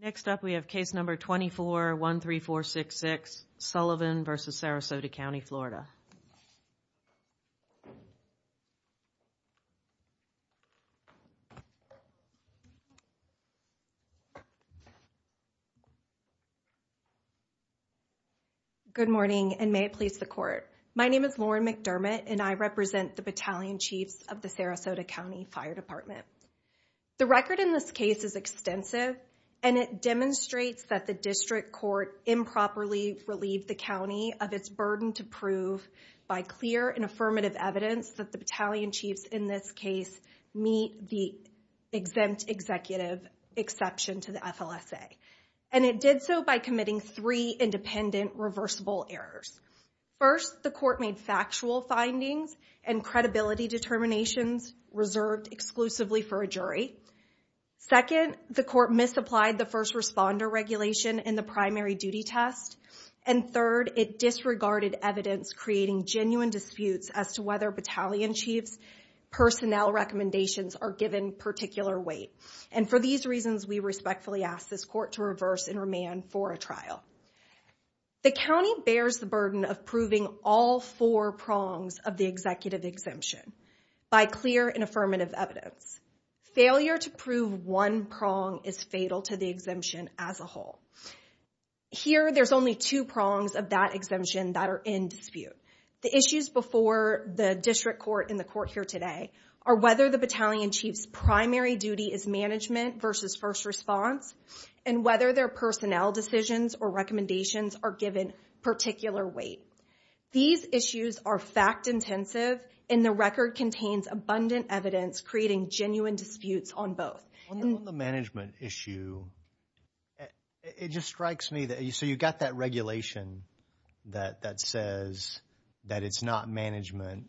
Next up we have case number 2413466, Sullivan v. Sarasota County, Florida. Good morning, and may it please the court. My name is Lauren McDermott, and I represent the battalion chiefs of the Sarasota County Fire Department. The record in this case is extensive, and it demonstrates that the district court improperly relieved the county of its burden to prove by clear and affirmative evidence that the battalion chiefs in this case meet the exempt executive exception to the FLSA. And it did so by committing three independent reversible errors. First, the court made factual findings and credibility determinations reserved exclusively for a jury. Second, the court misapplied the first responder regulation in the primary duty test. And third, it disregarded evidence creating genuine disputes as to whether battalion chiefs' personnel recommendations are given particular weight. And for these reasons, we respectfully ask this court to reverse and remand for a trial. The county bears the burden of proving all four prongs of the executive exemption by clear and affirmative evidence. Failure to prove one prong is fatal to the exemption as a whole. Here there's only two prongs of that exemption that are in dispute. The issues before the district court and the court here today are whether the battalion chiefs' primary duty is management versus first response, and whether their personnel decisions or recommendations are given particular weight. These issues are fact-intensive, and the record contains abundant evidence creating genuine disputes on both. On the management issue, it just strikes me that, so you've got that regulation that says that it's not management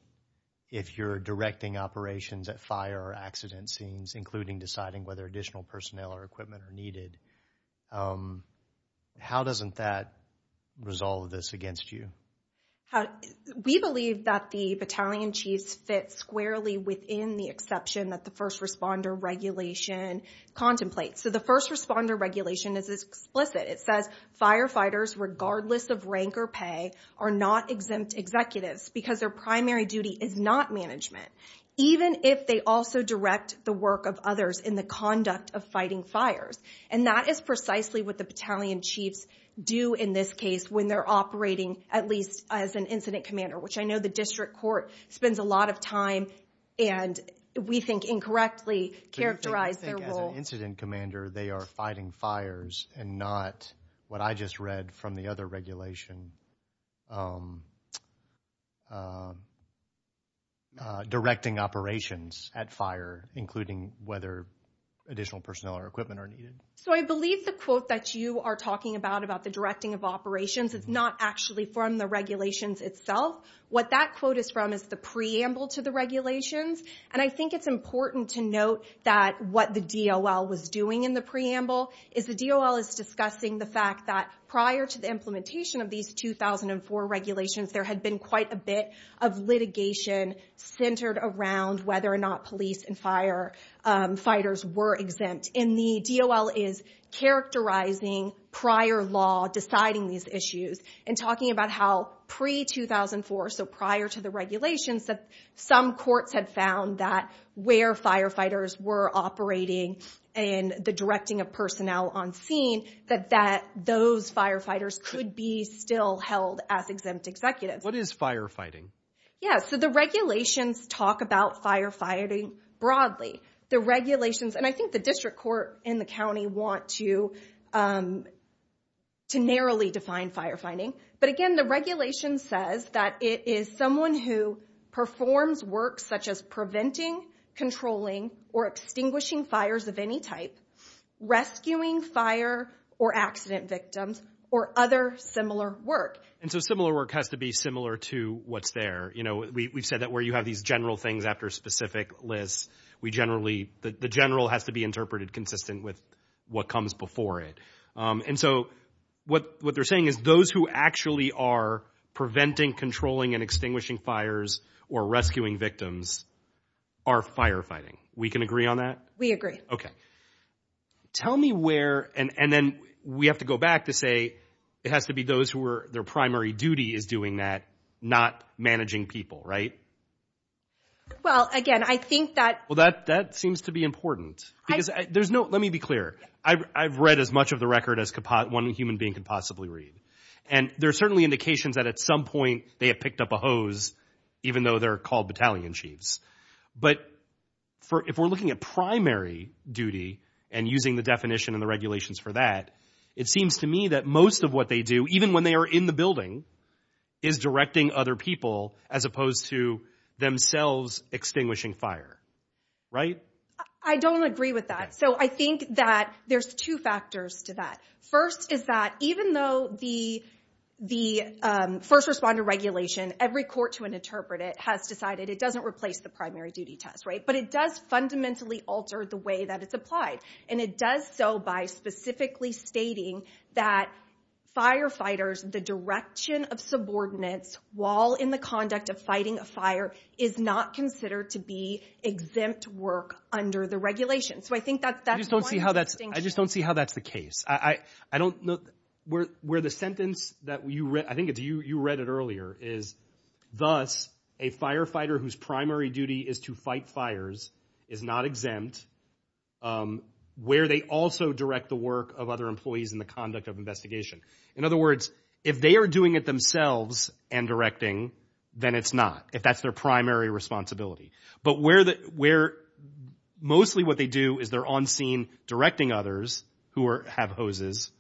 if you're directing operations at fire or accident scenes, including deciding whether additional personnel or equipment are needed. How doesn't that resolve this against you? We believe that the battalion chiefs fit squarely within the exception that the first responder regulation contemplates. So the first responder regulation is explicit. It says firefighters, regardless of rank or pay, are not exempt executives because their primary duty is not management, even if they also direct the work of others in the conduct of fighting fires. And that is precisely what the battalion chiefs do in this case when they're operating, at least as an incident commander, which I know the district court spends a lot of time and we think incorrectly characterize their role. So you think as an incident commander, they are fighting fires and not, what I just read from the other regulation, directing operations at fire, including whether additional personnel or equipment are needed? So I believe the quote that you are talking about, about the directing of operations, it's not actually from the regulations itself. What that quote is from is the preamble to the regulations. And I think it's important to note that what the DOL was doing in the preamble is the DOL is discussing the fact that prior to the implementation of these 2004 regulations, there had been quite a bit of litigation centered around whether or not police and fire fighters were exempt. And the DOL is characterizing prior law, deciding these issues, and talking about how pre-2004, so prior to the regulations, that some courts had found that where firefighters were operating and the directing of personnel on scene, that those firefighters could be still held as exempt executives. What is firefighting? Yeah. So the regulations talk about firefighting broadly. The regulations, and I think the district court and the county want to narrowly define firefighting, but again, the regulation says that it is someone who performs work such as preventing, controlling, or extinguishing fires of any type, rescuing fire or accident victims, or other similar work. And so similar work has to be similar to what's there. You know, we've said that where you have these general things after specific lists, we generally the general has to be interpreted consistent with what comes before it. And so what they're saying is those who actually are preventing, controlling, and extinguishing fires or rescuing victims are firefighting. We can agree on that? We agree. Okay. Tell me where, and then we have to go back to say, it has to be those who are, their primary duty is doing that, not managing people, right? Well, again, I think that- Well, that seems to be important because there's no, let me be clear. I've read as much of the record as one human being could possibly read. And there are certainly indications that at some point they have picked up a hose, even though they're called battalion chiefs. But if we're looking at primary duty and using the definition and the regulations for that, it seems to me that most of what they do, even when they are in the building, is directing other people as opposed to themselves extinguishing fire, right? I don't agree with that. So I think that there's two factors to that. First is that even though the first responder regulation, every court to interpret it has decided it doesn't replace the primary duty test, right? But it does fundamentally alter the way that it's applied. And it does so by specifically stating that firefighters, the direction of subordinates while in the conduct of fighting a fire is not considered to be exempt work under the regulation. So I think that's one distinction. I just don't see how that's the case. I don't know, where the sentence that you read, I think you read it earlier, is thus a firefighter whose primary duty is to fight fires is not exempt where they also direct the work of other employees in the conduct of investigation. In other words, if they are doing it themselves and directing, then it's not, if that's their primary responsibility. But mostly what they do is they're on scene directing others who have hoses.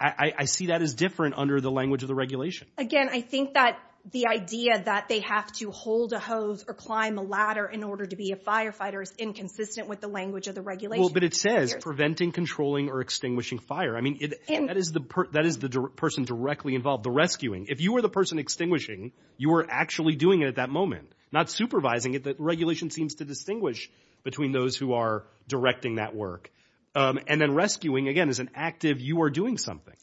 I see that as different under the language of the regulation. Again, I think that the idea that they have to hold a hose or climb a ladder in order to be a firefighter is inconsistent with the language of the regulation. But it says preventing, controlling, or extinguishing fire. I mean, that is the person directly involved, the rescuing. If you were the person extinguishing, you were actually doing it at that moment, not supervising it. The regulation seems to distinguish between those who are directing that work. And then rescuing, again, is an active, you are doing something.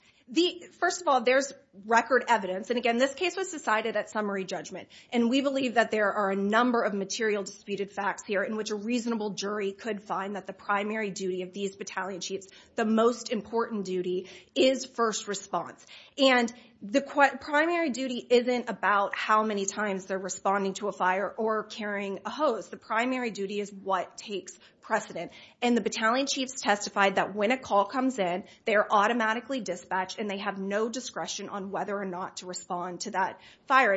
First of all, there's record evidence. And again, this case was decided at summary judgment. And we believe that there are a number of material disputed facts here in which a reasonable jury could find that the primary duty of these battalion chiefs, the most important duty, is first response. And the primary duty isn't about how many times they're responding to a fire or carrying a hose. The primary duty is what takes precedent. And the battalion chiefs testified that when a call comes in, they are automatically dispatched and they have no discretion on whether or not to respond to that fire.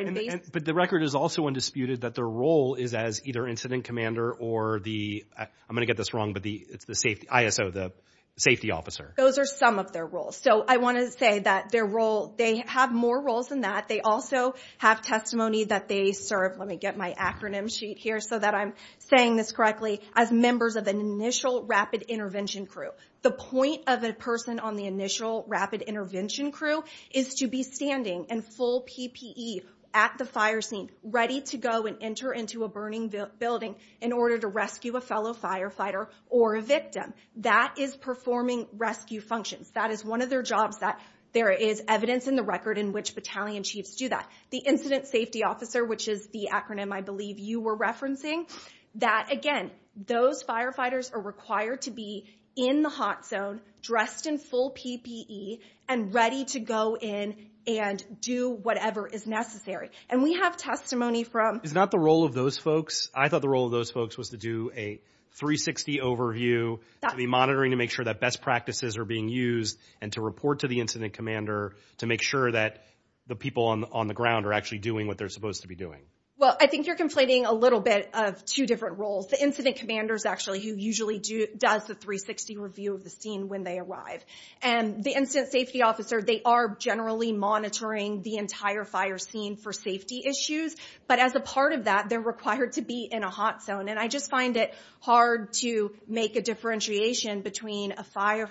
But the record is also undisputed that their role is as either incident commander or the, I'm going to get this wrong, but it's the safety, ISO, the safety officer. Those are some of their roles. So I want to say that their role, they have more roles than that. They also have testimony that they serve, let me get my acronym sheet here so that I'm saying this correctly, as members of an initial rapid intervention crew. The point of a person on the initial rapid intervention crew is to be standing in full PPE at the fire scene, ready to go and enter into a burning building in order to rescue a fellow firefighter or a victim. That is performing rescue functions. That is one of their jobs that there is evidence in the record in which battalion chiefs do that. The incident safety officer, which is the acronym I believe you were referencing, that again, those firefighters are required to be in the hot zone, dressed in full PPE and ready to go in and do whatever is necessary. And we have testimony from- Is not the role of those folks. I thought the role of those folks was to do a 360 overview, to be monitoring, to make sure that best practices are being used and to report to the incident commander to make sure that the people on the ground are actually doing what they're supposed to be doing. Well, I think you're conflating a little bit of two different roles. The incident commander is actually who usually does the 360 review of the scene when they arrive. And the incident safety officer, they are generally monitoring the entire fire scene for safety issues. But as a part of that, they're required to be in a hot zone. And I just find it hard to make a differentiation between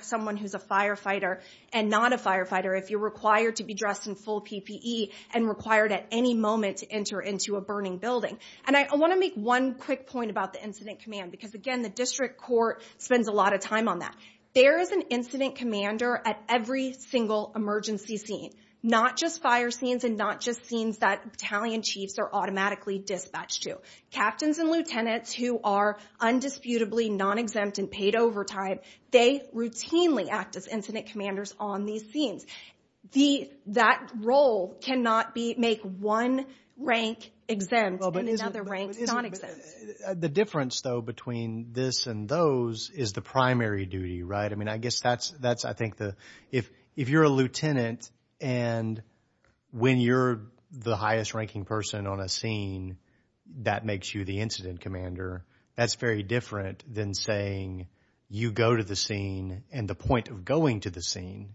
someone who's a firefighter and not a firefighter. If you're required to be dressed in full PPE and required at any moment to enter into a burning building. And I want to make one quick point about the incident command, because again, the district court spends a lot of time on that. There is an incident commander at every single emergency scene. Not just fire scenes and not just scenes that battalion chiefs are automatically dispatched to. Captains and lieutenants who are undisputably non-exempt and paid overtime, they routinely act as incident commanders on these scenes. That role cannot make one rank exempt and another rank non-exempt. The difference though between this and those is the primary duty, right? I mean, I guess that's, I think, if you're a lieutenant and when you're the highest ranking person on a scene, that makes you the incident commander. That's very different than saying you go to the scene and the point of going to the scene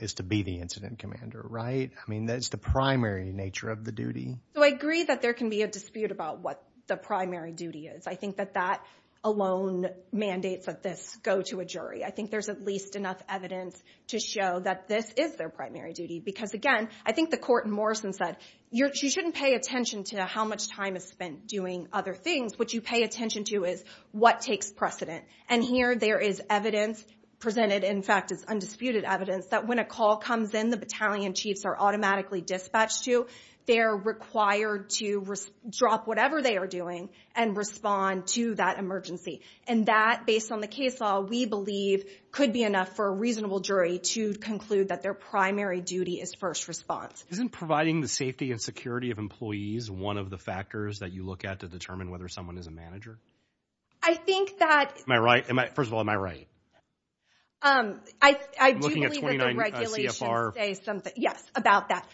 is to be the incident commander, right? I mean, that's the primary nature of the duty. So I agree that there can be a dispute about what the primary duty is. I think that that alone mandates that this go to a jury. I think there's at least enough evidence to show that this is their primary duty. Because again, I think the court in Morrison said, you shouldn't pay attention to how much time is spent doing other things. What you pay attention to is what takes precedent. And here there is evidence presented, in fact, it's undisputed evidence that when a call comes in, the battalion chiefs are automatically dispatched to, they're required to drop whatever they are doing and respond to that emergency. And that, based on the case law, we believe could be enough for a reasonable jury to conclude that their primary duty is first response. Isn't providing the safety and security of employees one of the factors that you look at to determine whether someone is a manager? I think that... Am I right? First of all, am I right? I do believe that the regulations say something. Yes, about that.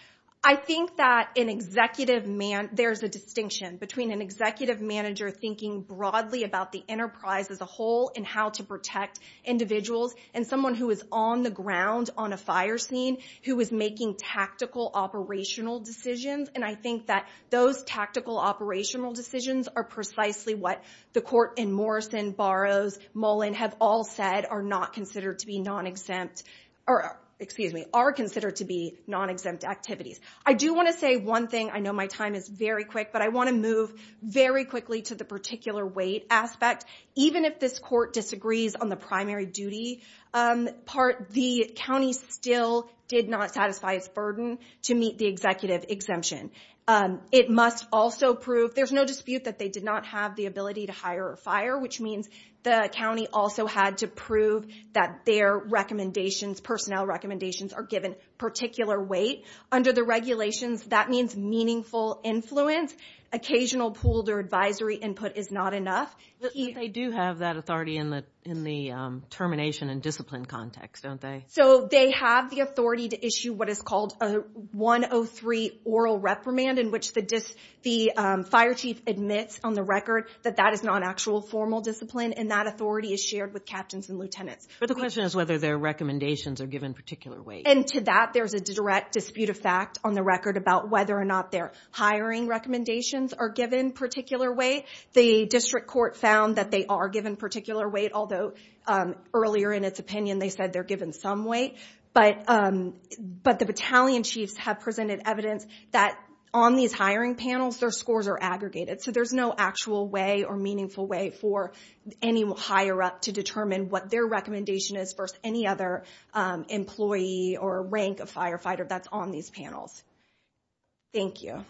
I think that there's a distinction between an executive manager thinking broadly about the enterprise as a whole and how to protect individuals, and someone who is on the ground on a fire scene, who is making tactical operational decisions. And I think that those tactical operational decisions are precisely what the court in Morrison, Barrows, Mullen, have all said are not considered to be non-exempt, excuse me, are considered to be non-exempt activities. I do want to say one thing, I know my time is very quick, but I want to move very quickly to the particular weight aspect. Even if this court disagrees on the primary duty part, the county still did not satisfy its burden to meet the executive exemption. It must also prove, there's no dispute that they did not have the ability to hire a fire, which means the county also had to prove that their recommendations, personnel recommendations, are given particular weight. Under the regulations, that means meaningful influence, occasional pooled or advisory input is not enough. But they do have that authority in the termination and discipline context, don't they? So they have the authority to issue what is called a 103 oral reprimand in which the fire chief admits on the record that that is not an actual formal discipline and that authority is shared with captains and lieutenants. But the question is whether their recommendations are given particular weight. And to that, there's a direct dispute of fact on the record about whether or not their hiring recommendations are given particular weight. The district court found that they are given particular weight, although earlier in its opinion they said they're given some weight. But the battalion chiefs have presented evidence that on these hiring panels, their scores are aggregated. So there's no actual way or meaningful way for any higher up to determine what their recommendation is versus any other employee or rank of firefighter that's on these panels. Thank you.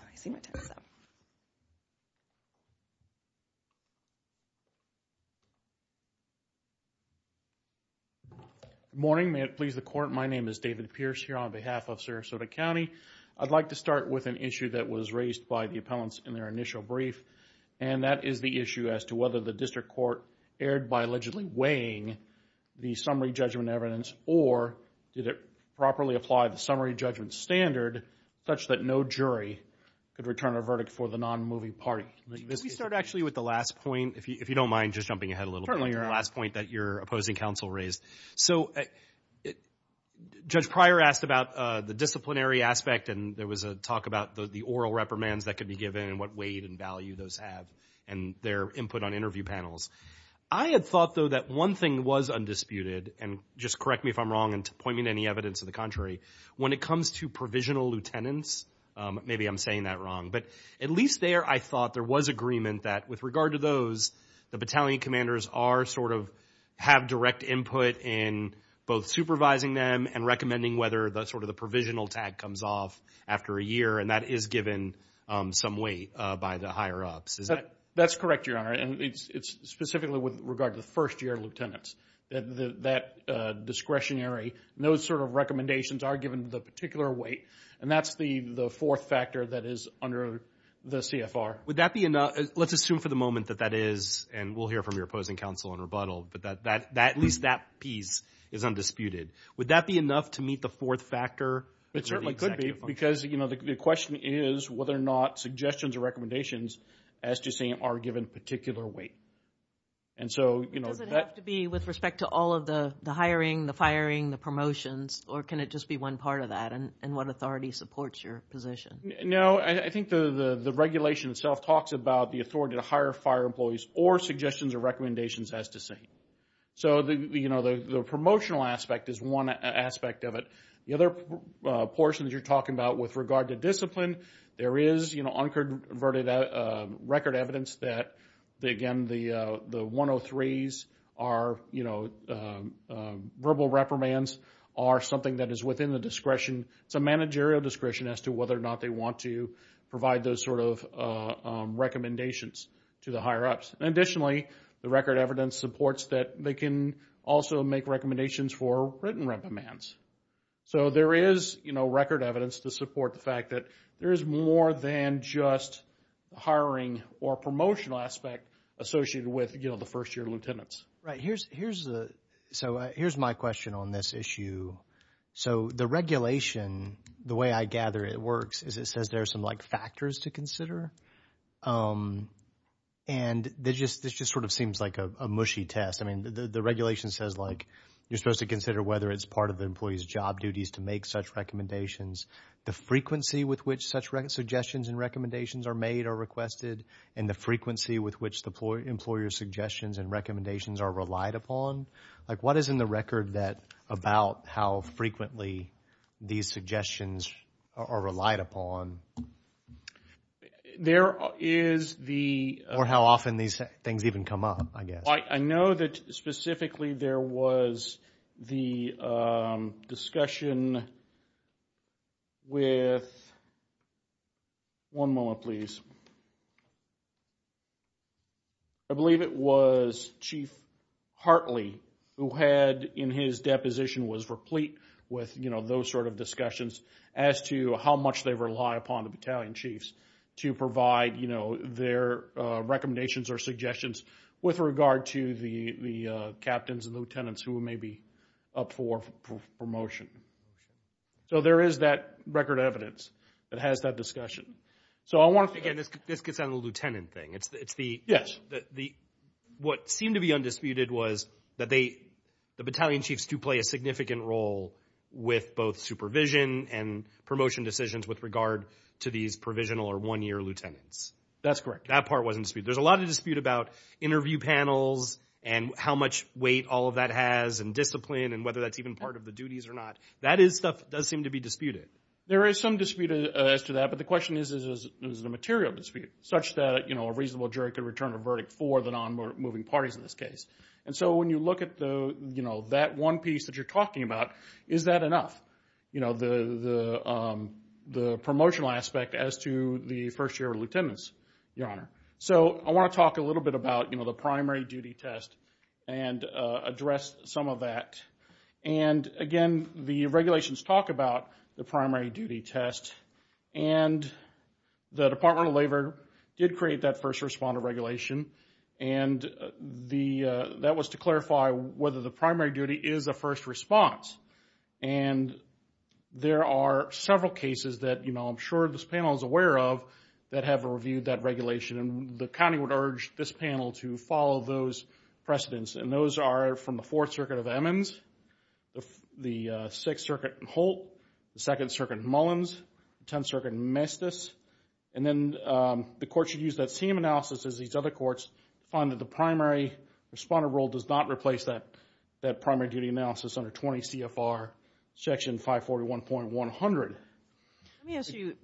Good morning, may it please the court. My name is David Pierce here on behalf of Sarasota County. I'd like to start with an issue that was raised by the appellants in their initial brief. And that is the issue as to whether the district court erred by allegedly weighing the summary judgment evidence or did it properly apply the summary judgment standard such that no jury could return a verdict for the non-movie party. Let me start actually with the last point, if you don't mind just jumping ahead a little bit, the last point that your opposing counsel raised. So Judge Pryor asked about the disciplinary aspect and there was a talk about the oral reprimands that could be given and what weight and value those have and their input on interview panels. I had thought though that one thing was undisputed, and just correct me if I'm wrong and point me to any evidence of the contrary, when it comes to provisional lieutenants, maybe I'm saying that wrong. But at least there I thought there was agreement that with regard to those, the battalion commanders are sort of have direct input in both supervising them and recommending whether the sort of the provisional tag comes off after a year and that is given some weight by the higher ups. Is that? That's correct, Your Honor. And it's specifically with regard to the first year lieutenants. That discretionary, those sort of recommendations are given the particular weight. And that's the fourth factor that is under the CFR. Would that be enough? Let's assume for the moment that that is, and we'll hear from your opposing counsel in rebuttal, but at least that piece is undisputed. Would that be enough to meet the fourth factor? It certainly could be because, you know, the question is whether or not suggestions or recommendations as you say are given particular weight. And so, you know, that... Does it have to be with respect to all of the hiring, the firing, the promotions or can it just be one part of that and what authority supports your position? No. I think the regulation itself talks about the authority to hire fire employees or suggestions or recommendations as to say. So, you know, the promotional aspect is one aspect of it. The other portion that you're talking about with regard to discipline, there is, you know, unconverted record evidence that, again, the 103s are, you know, verbal reprimands are something that is within the discretion, it's a managerial discretion as to whether or not they want to provide those sort of recommendations to the higher-ups. And additionally, the record evidence supports that they can also make recommendations for written reprimands. So there is, you know, record evidence to support the fact that there is more than just hiring or promotional aspect associated with, you know, the first year lieutenants. Right. And here's the, so here's my question on this issue. So the regulation, the way I gather it works is it says there are some like factors to consider and this just sort of seems like a mushy test. I mean, the regulation says like you're supposed to consider whether it's part of the employee's job duties to make such recommendations, the frequency with which such suggestions and recommendations are made or requested and the frequency with which the employer's suggestions and recommendations are relied upon. Like what is in the record that, about how frequently these suggestions are relied upon? There is the... Or how often these things even come up, I guess. I know that specifically there was the discussion with, one moment please, I believe it was Chief Hartley who had in his deposition was replete with, you know, those sort of discussions as to how much they rely upon the battalion chiefs to provide, you know, their recommendations or suggestions with regard to the captains and lieutenants who may be up for promotion. So there is that record evidence that has that discussion. So I want to... Again, this gets on the lieutenant thing. It's the... Yes. So what seemed to be undisputed was that the battalion chiefs do play a significant role with both supervision and promotion decisions with regard to these provisional or one-year lieutenants. That's correct. That part wasn't disputed. There's a lot of dispute about interview panels and how much weight all of that has and discipline and whether that's even part of the duties or not. That stuff does seem to be disputed. There is some dispute as to that, but the question is, is it a material dispute such that a reasonable jury could return a verdict for the non-moving parties in this case? And so when you look at that one piece that you're talking about, is that enough? You know, the promotional aspect as to the first-year lieutenants, Your Honor. So I want to talk a little bit about, you know, the primary duty test and address some of that. And, again, the regulations talk about the primary duty test. And the Department of Labor did create that first responder regulation. And that was to clarify whether the primary duty is a first response. And there are several cases that, you know, I'm sure this panel is aware of that have reviewed that regulation. And the county would urge this panel to follow those precedents. And those are from the Fourth Circuit of Emmons, the Sixth Circuit in Holt, the Second Circuit in Mullins, the Tenth Circuit in Mestis. And then the court should use that same analysis as these other courts to find that the primary responder rule does not replace that primary duty analysis under 20 CFR Section 541.100. Let me ask you,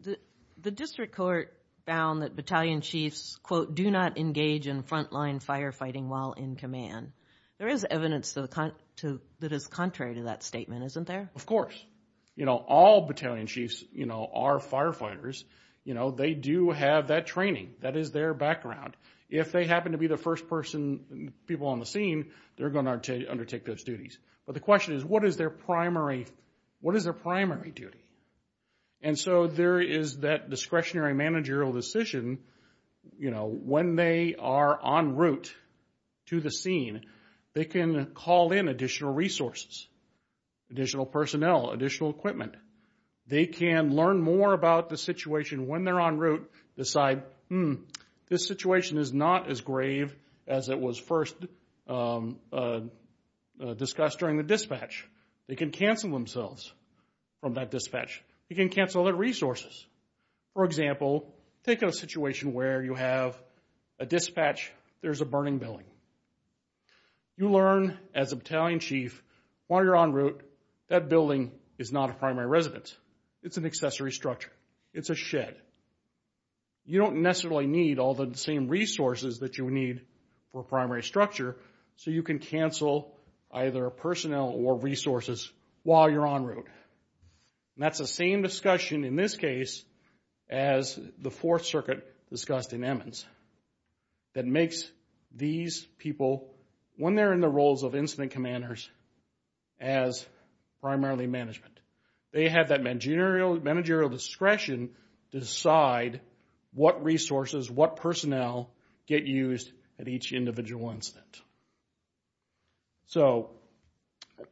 the district court found that battalion chiefs, quote, do not engage in frontline firefighting while in command. There is evidence that is contrary to that statement, isn't there? Of course. You know, all battalion chiefs, you know, are firefighters. You know, they do have that training. That is their background. If they happen to be the first person, people on the scene, they're going to undertake those duties. But the question is, what is their primary, what is their primary duty? And so there is that discretionary managerial decision, you know, when they are en route to the scene, they can call in additional resources, additional personnel, additional equipment. They can learn more about the situation when they're en route, decide, hmm, this situation is not as grave as it was first discussed during the dispatch. They can cancel themselves from that dispatch. You can cancel their resources. For example, take a situation where you have a dispatch, there's a burning building. You learn as a battalion chief, while you're en route, that building is not a primary residence. It's an accessory structure. It's a shed. You don't necessarily need all the same resources that you would need for a primary structure, so you can cancel either personnel or resources while you're en route. And that's the same discussion in this case as the Fourth Circuit discussed in Emmons that makes these people, when they're in the roles of incident commanders, as primarily management. They have that managerial discretion to decide what resources, what personnel get used at each individual incident. So,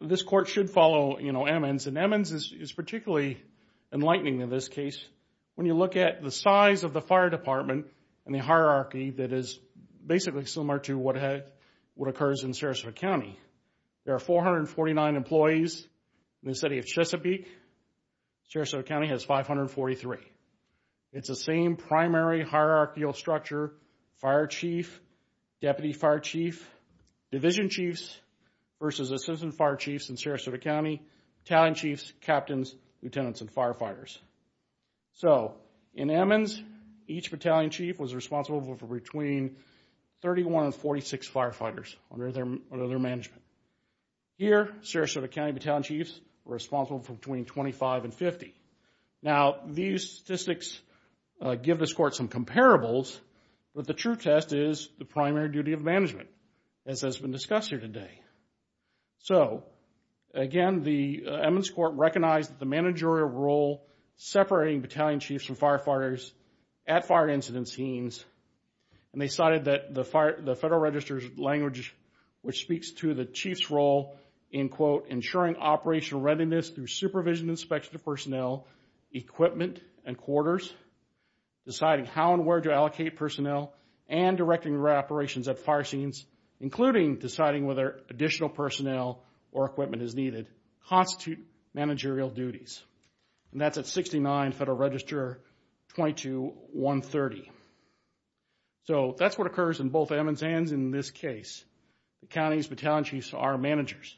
this court should follow, you know, Emmons, and Emmons is particularly enlightening in this case. When you look at the size of the fire department and the hierarchy that is basically similar to what occurs in Sarasota County, there are 449 employees in the city of Chesapeake. Sarasota County has 543. It's the same primary hierarchical structure, fire chief, deputy fire chief, division chiefs versus assistant fire chiefs in Sarasota County, battalion chiefs, captains, lieutenants, and So, in Emmons, each battalion chief was responsible for between 31 and 46 firefighters under their management. Here, Sarasota County battalion chiefs were responsible for between 25 and 50. Now, these statistics give this court some comparables, but the true test is the primary duty of management, as has been discussed here today. So, again, the Emmons court recognized the managerial role separating battalion chiefs from firefighters at fire incident scenes, and they cited the Federal Register's language, which speaks to the chief's role in, quote, ensuring operational readiness through supervision inspection of personnel, equipment, and quarters, deciding how and where to allocate personnel, and directing their operations at fire scenes, including deciding whether additional personnel or equipment is needed, constitute managerial duties, and that's at 69 Federal Register 22130. So, that's what occurs in both Emmons and in this case, the county's battalion chiefs are managers.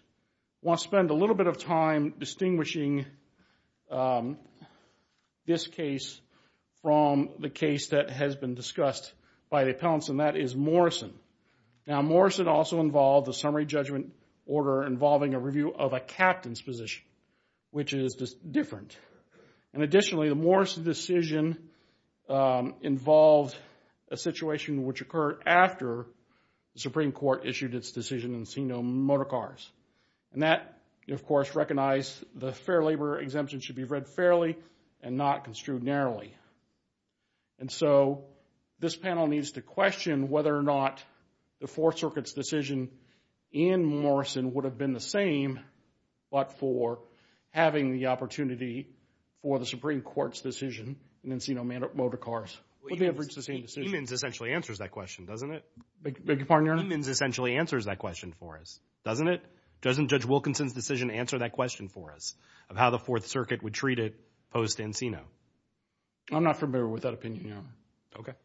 I want to spend a little bit of time distinguishing this case from the case that has been discussed by the appellants, and that is Morrison. Now, Morrison also involved a summary judgment order involving a review of a captain's position, which is different. And additionally, the Morrison decision involved a situation which occurred after the Supreme Court issued its decision in Encino Motorcars, and that, of course, recognized the fair labor exemption should be read fairly and not construed narrowly. And so, this panel needs to question whether or not the Fourth Circuit's decision in Morrison would have been the same, but for having the opportunity for the Supreme Court's decision in Encino Motorcars. Would they have reached the same decision? Emmons essentially answers that question, doesn't it? Doesn't Judge Wilkinson's decision answer that question for us, of how the Fourth Circuit would treat it post-Encino? I'm not familiar with that opinion, Your Honor.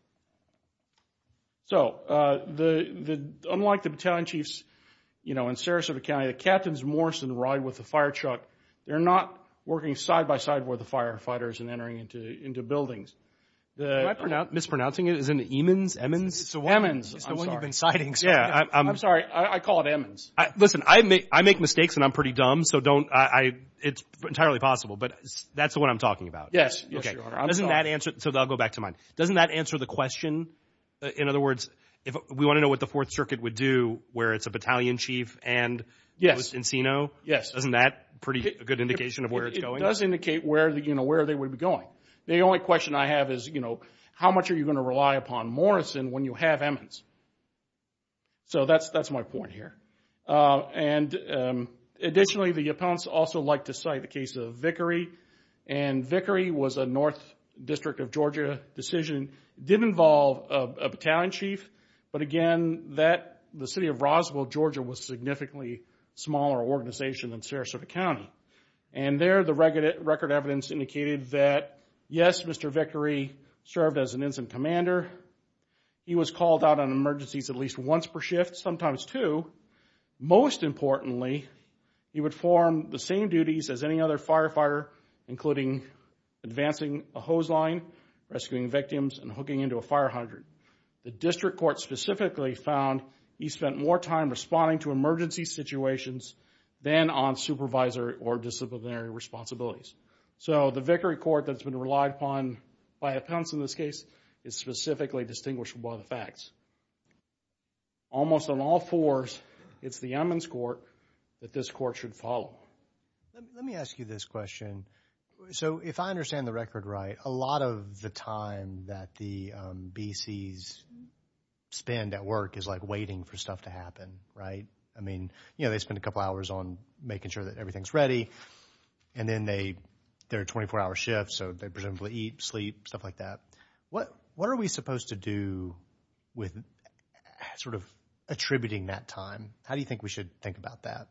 So, unlike the battalion chiefs, you know, in Sarasota County, the captains Morrison ride with the fire truck. They're not working side by side with the firefighters and entering into buildings. Mispronouncing it, is it Emmons? Emmons? Emmons, I'm sorry. It's the one you've been citing. Yeah. I'm sorry. I call it Emmons. Listen, I make mistakes and I'm pretty dumb, so don't, it's entirely possible, but that's the one I'm talking about. Yes. Yes, Your Honor. Doesn't that answer, so I'll go back to mine. Doesn't that answer the question? In other words, if we want to know what the Fourth Circuit would do where it's a battalion chief and post-Encino? Yes. Yes. Doesn't that pretty good indication of where it's going? It does indicate where, you know, where they would be going. The only question I have is, you know, how much are you going to rely upon Morrison when you have Emmons? So that's my point here. And additionally, the appellants also like to cite the case of Vickery, and Vickery was a North District of Georgia decision. Did involve a battalion chief, but again, that, the city of Roswell, Georgia was a significantly smaller organization than Sarasota County. And there, the record evidence indicated that, yes, Mr. Vickery served as an Ensign Commander. He was called out on emergencies at least once per shift, sometimes two. Most importantly, he would form the same duties as any other firefighter, including advancing a hose line, rescuing victims, and hooking into a fire hydrant. The District Court specifically found he spent more time responding to emergency situations than on supervisor or disciplinary responsibilities. So the Vickery Court that's been relied upon by appellants in this case is specifically distinguished by the facts. Almost on all fours, it's the Emmons Court that this Court should follow. Let me ask you this question. So if I understand the record right, a lot of the time that the BCs spend at work is like waiting for stuff to happen, right? I mean, you know, they spend a couple hours on making sure that everything's ready, and then they're a 24-hour shift, so they presumably eat, sleep, stuff like that. What are we supposed to do with sort of attributing that time? How do you think we should think about that?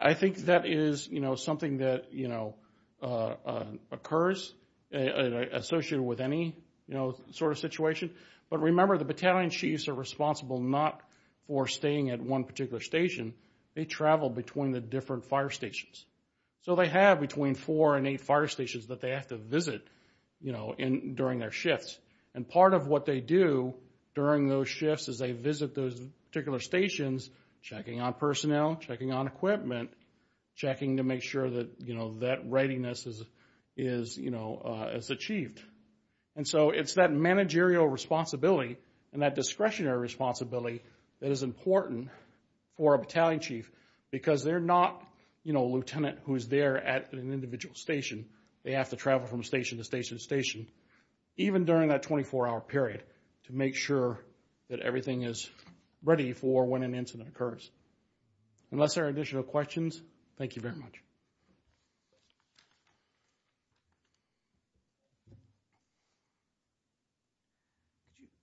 I think that is, you know, something that, you know, occurs associated with any, you know, sort of situation. But remember, the battalion chiefs are responsible not for staying at one particular station. They travel between the different fire stations. So they have between four and eight fire stations that they have to visit, you know, during their shifts. And part of what they do during those shifts is they visit those particular stations, checking on personnel, checking on equipment, checking to make sure that, you know, that readiness is, you know, is achieved. And so it's that managerial responsibility and that discretionary responsibility that is important for a battalion chief because they're not, you know, a lieutenant who's there at an individual station. They have to travel from station to station to station, even during that 24-hour period, to make sure that everything is ready for when an incident occurs. Unless there are additional questions, thank you very much.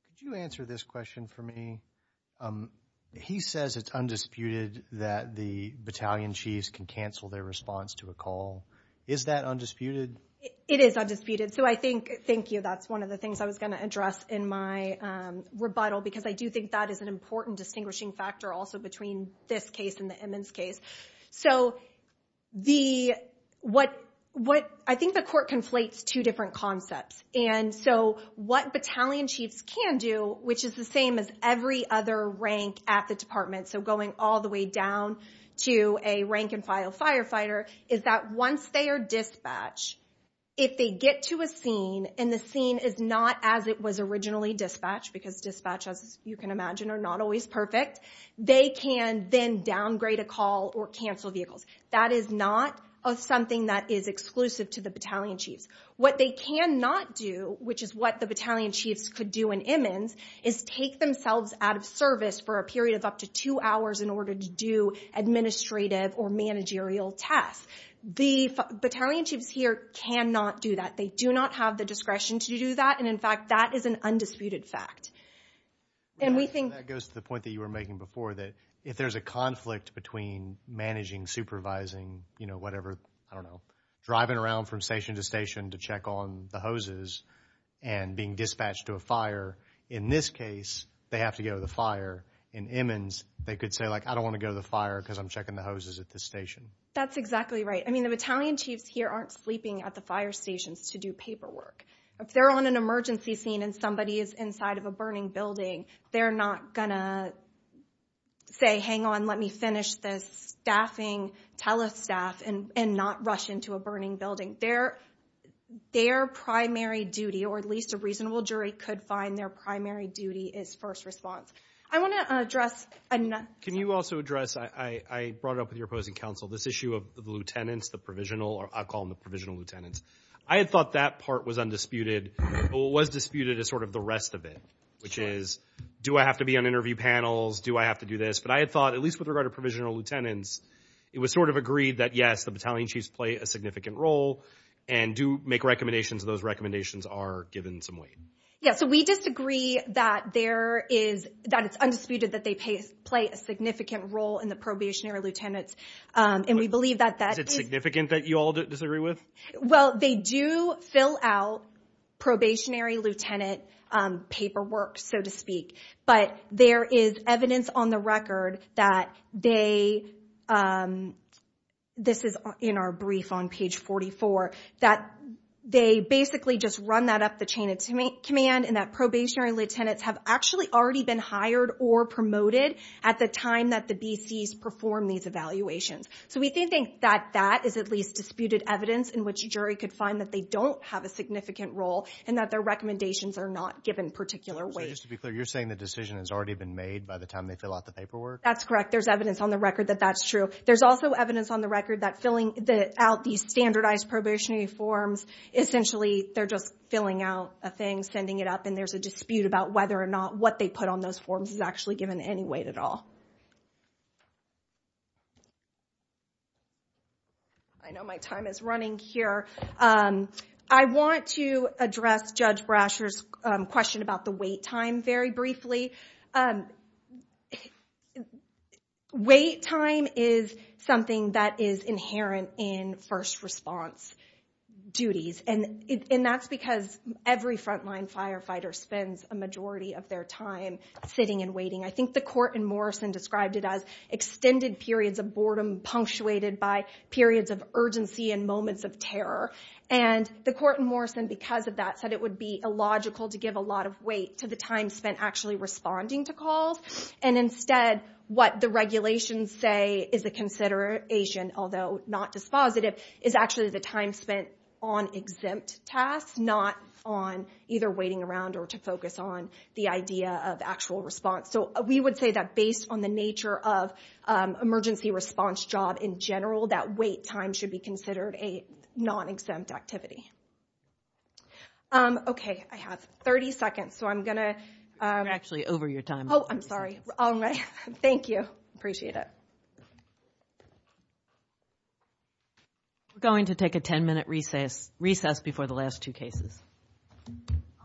Could you answer this question for me? He says it's undisputed that the battalion chiefs can cancel their response to a call. Is that undisputed? It is undisputed. So I think, thank you, that's one of the things I was going to address in my rebuttal because I do think that is an important distinguishing factor also between this case and the Emmons case. So the, what, what, I think the court conflates two different concepts. And so what battalion chiefs can do, which is the same as every other rank at the department, so going all the way down to a rank and file firefighter, is that once they are dispatched, if they get to a scene and the scene is not as it was originally dispatched, because dispatch as you can imagine are not always perfect, they can then downgrade a call or cancel vehicles. That is not something that is exclusive to the battalion chiefs. What they cannot do, which is what the battalion chiefs could do in Emmons, is take themselves out of service for a period of up to two hours in order to do administrative or managerial tasks. The battalion chiefs here cannot do that. They do not have the discretion to do that. And in fact, that is an undisputed fact. And we think... That goes to the point that you were making before that if there's a conflict between managing, supervising, you know, whatever, I don't know, driving around from station to station to check on the hoses and being dispatched to a fire, in this case, they have to go to the fire. In Emmons, they could say, like, I don't want to go to the fire because I'm checking the hoses at this station. That's exactly right. I mean, the battalion chiefs here aren't sleeping at the fire stations to do paperwork. If they're on an emergency scene and somebody is inside of a burning building, they're not going to say, hang on, let me finish this staffing, tele-staff, and not rush into a burning building. Their primary duty, or at least a reasonable jury could find their primary duty, is first response. I want to address... Can you also address... I brought it up with your opposing counsel. This issue of the lieutenants, the provisional, or I'll call them the provisional lieutenants. I had thought that part was undisputed, but what was disputed is sort of the rest of it, which is, do I have to be on interview panels? Do I have to do this? But I had thought, at least with regard to provisional lieutenants, it was sort of agreed that yes, the battalion chiefs play a significant role and do make recommendations, and those recommendations are given some weight. Yeah, so we disagree that there is, that it's undisputed that they play a significant role in the probationary lieutenants, and we believe that that is... Is it significant that you all disagree with? Well, they do fill out probationary lieutenant paperwork, so to speak, but there is evidence on the record that they... This is in our brief on page 44, that they basically just run that up the chain of command, and that probationary lieutenants have actually already been hired or promoted at the time that the BCs perform these evaluations. So we do think that that is at least disputed evidence in which a jury could find that they don't have a significant role and that their recommendations are not given particular weight. So just to be clear, you're saying the decision has already been made by the time they fill out the paperwork? That's correct. There's evidence on the record that that's true. There's also evidence on the record that filling out these standardized probationary forms, essentially they're just filling out a thing, sending it up, and there's a dispute about whether or not what they put on those forms is actually given any weight at all. I know my time is running here. I want to address Judge Brasher's question about the wait time very briefly. Wait time is something that is inherent in first response duties, and that's because every frontline firefighter spends a majority of their time sitting and waiting. I think the court in Morrison described it as extended periods of boredom punctuated by periods of urgency and moments of terror. And the court in Morrison, because of that, said it would be illogical to give a lot of weight to the time spent actually responding to calls. And instead, what the regulations say is a consideration, although not dispositive, is actually the time spent on exempt tasks, not on either waiting around or to focus on the idea of actual response. So we would say that based on the nature of emergency response job in general, that wait time should be considered a non-exempt activity. Okay, I have 30 seconds, so I'm going to... Actually over your time. Oh, I'm sorry. All right. Thank you. Appreciate it. We're going to take a 10-minute recess before the last two cases.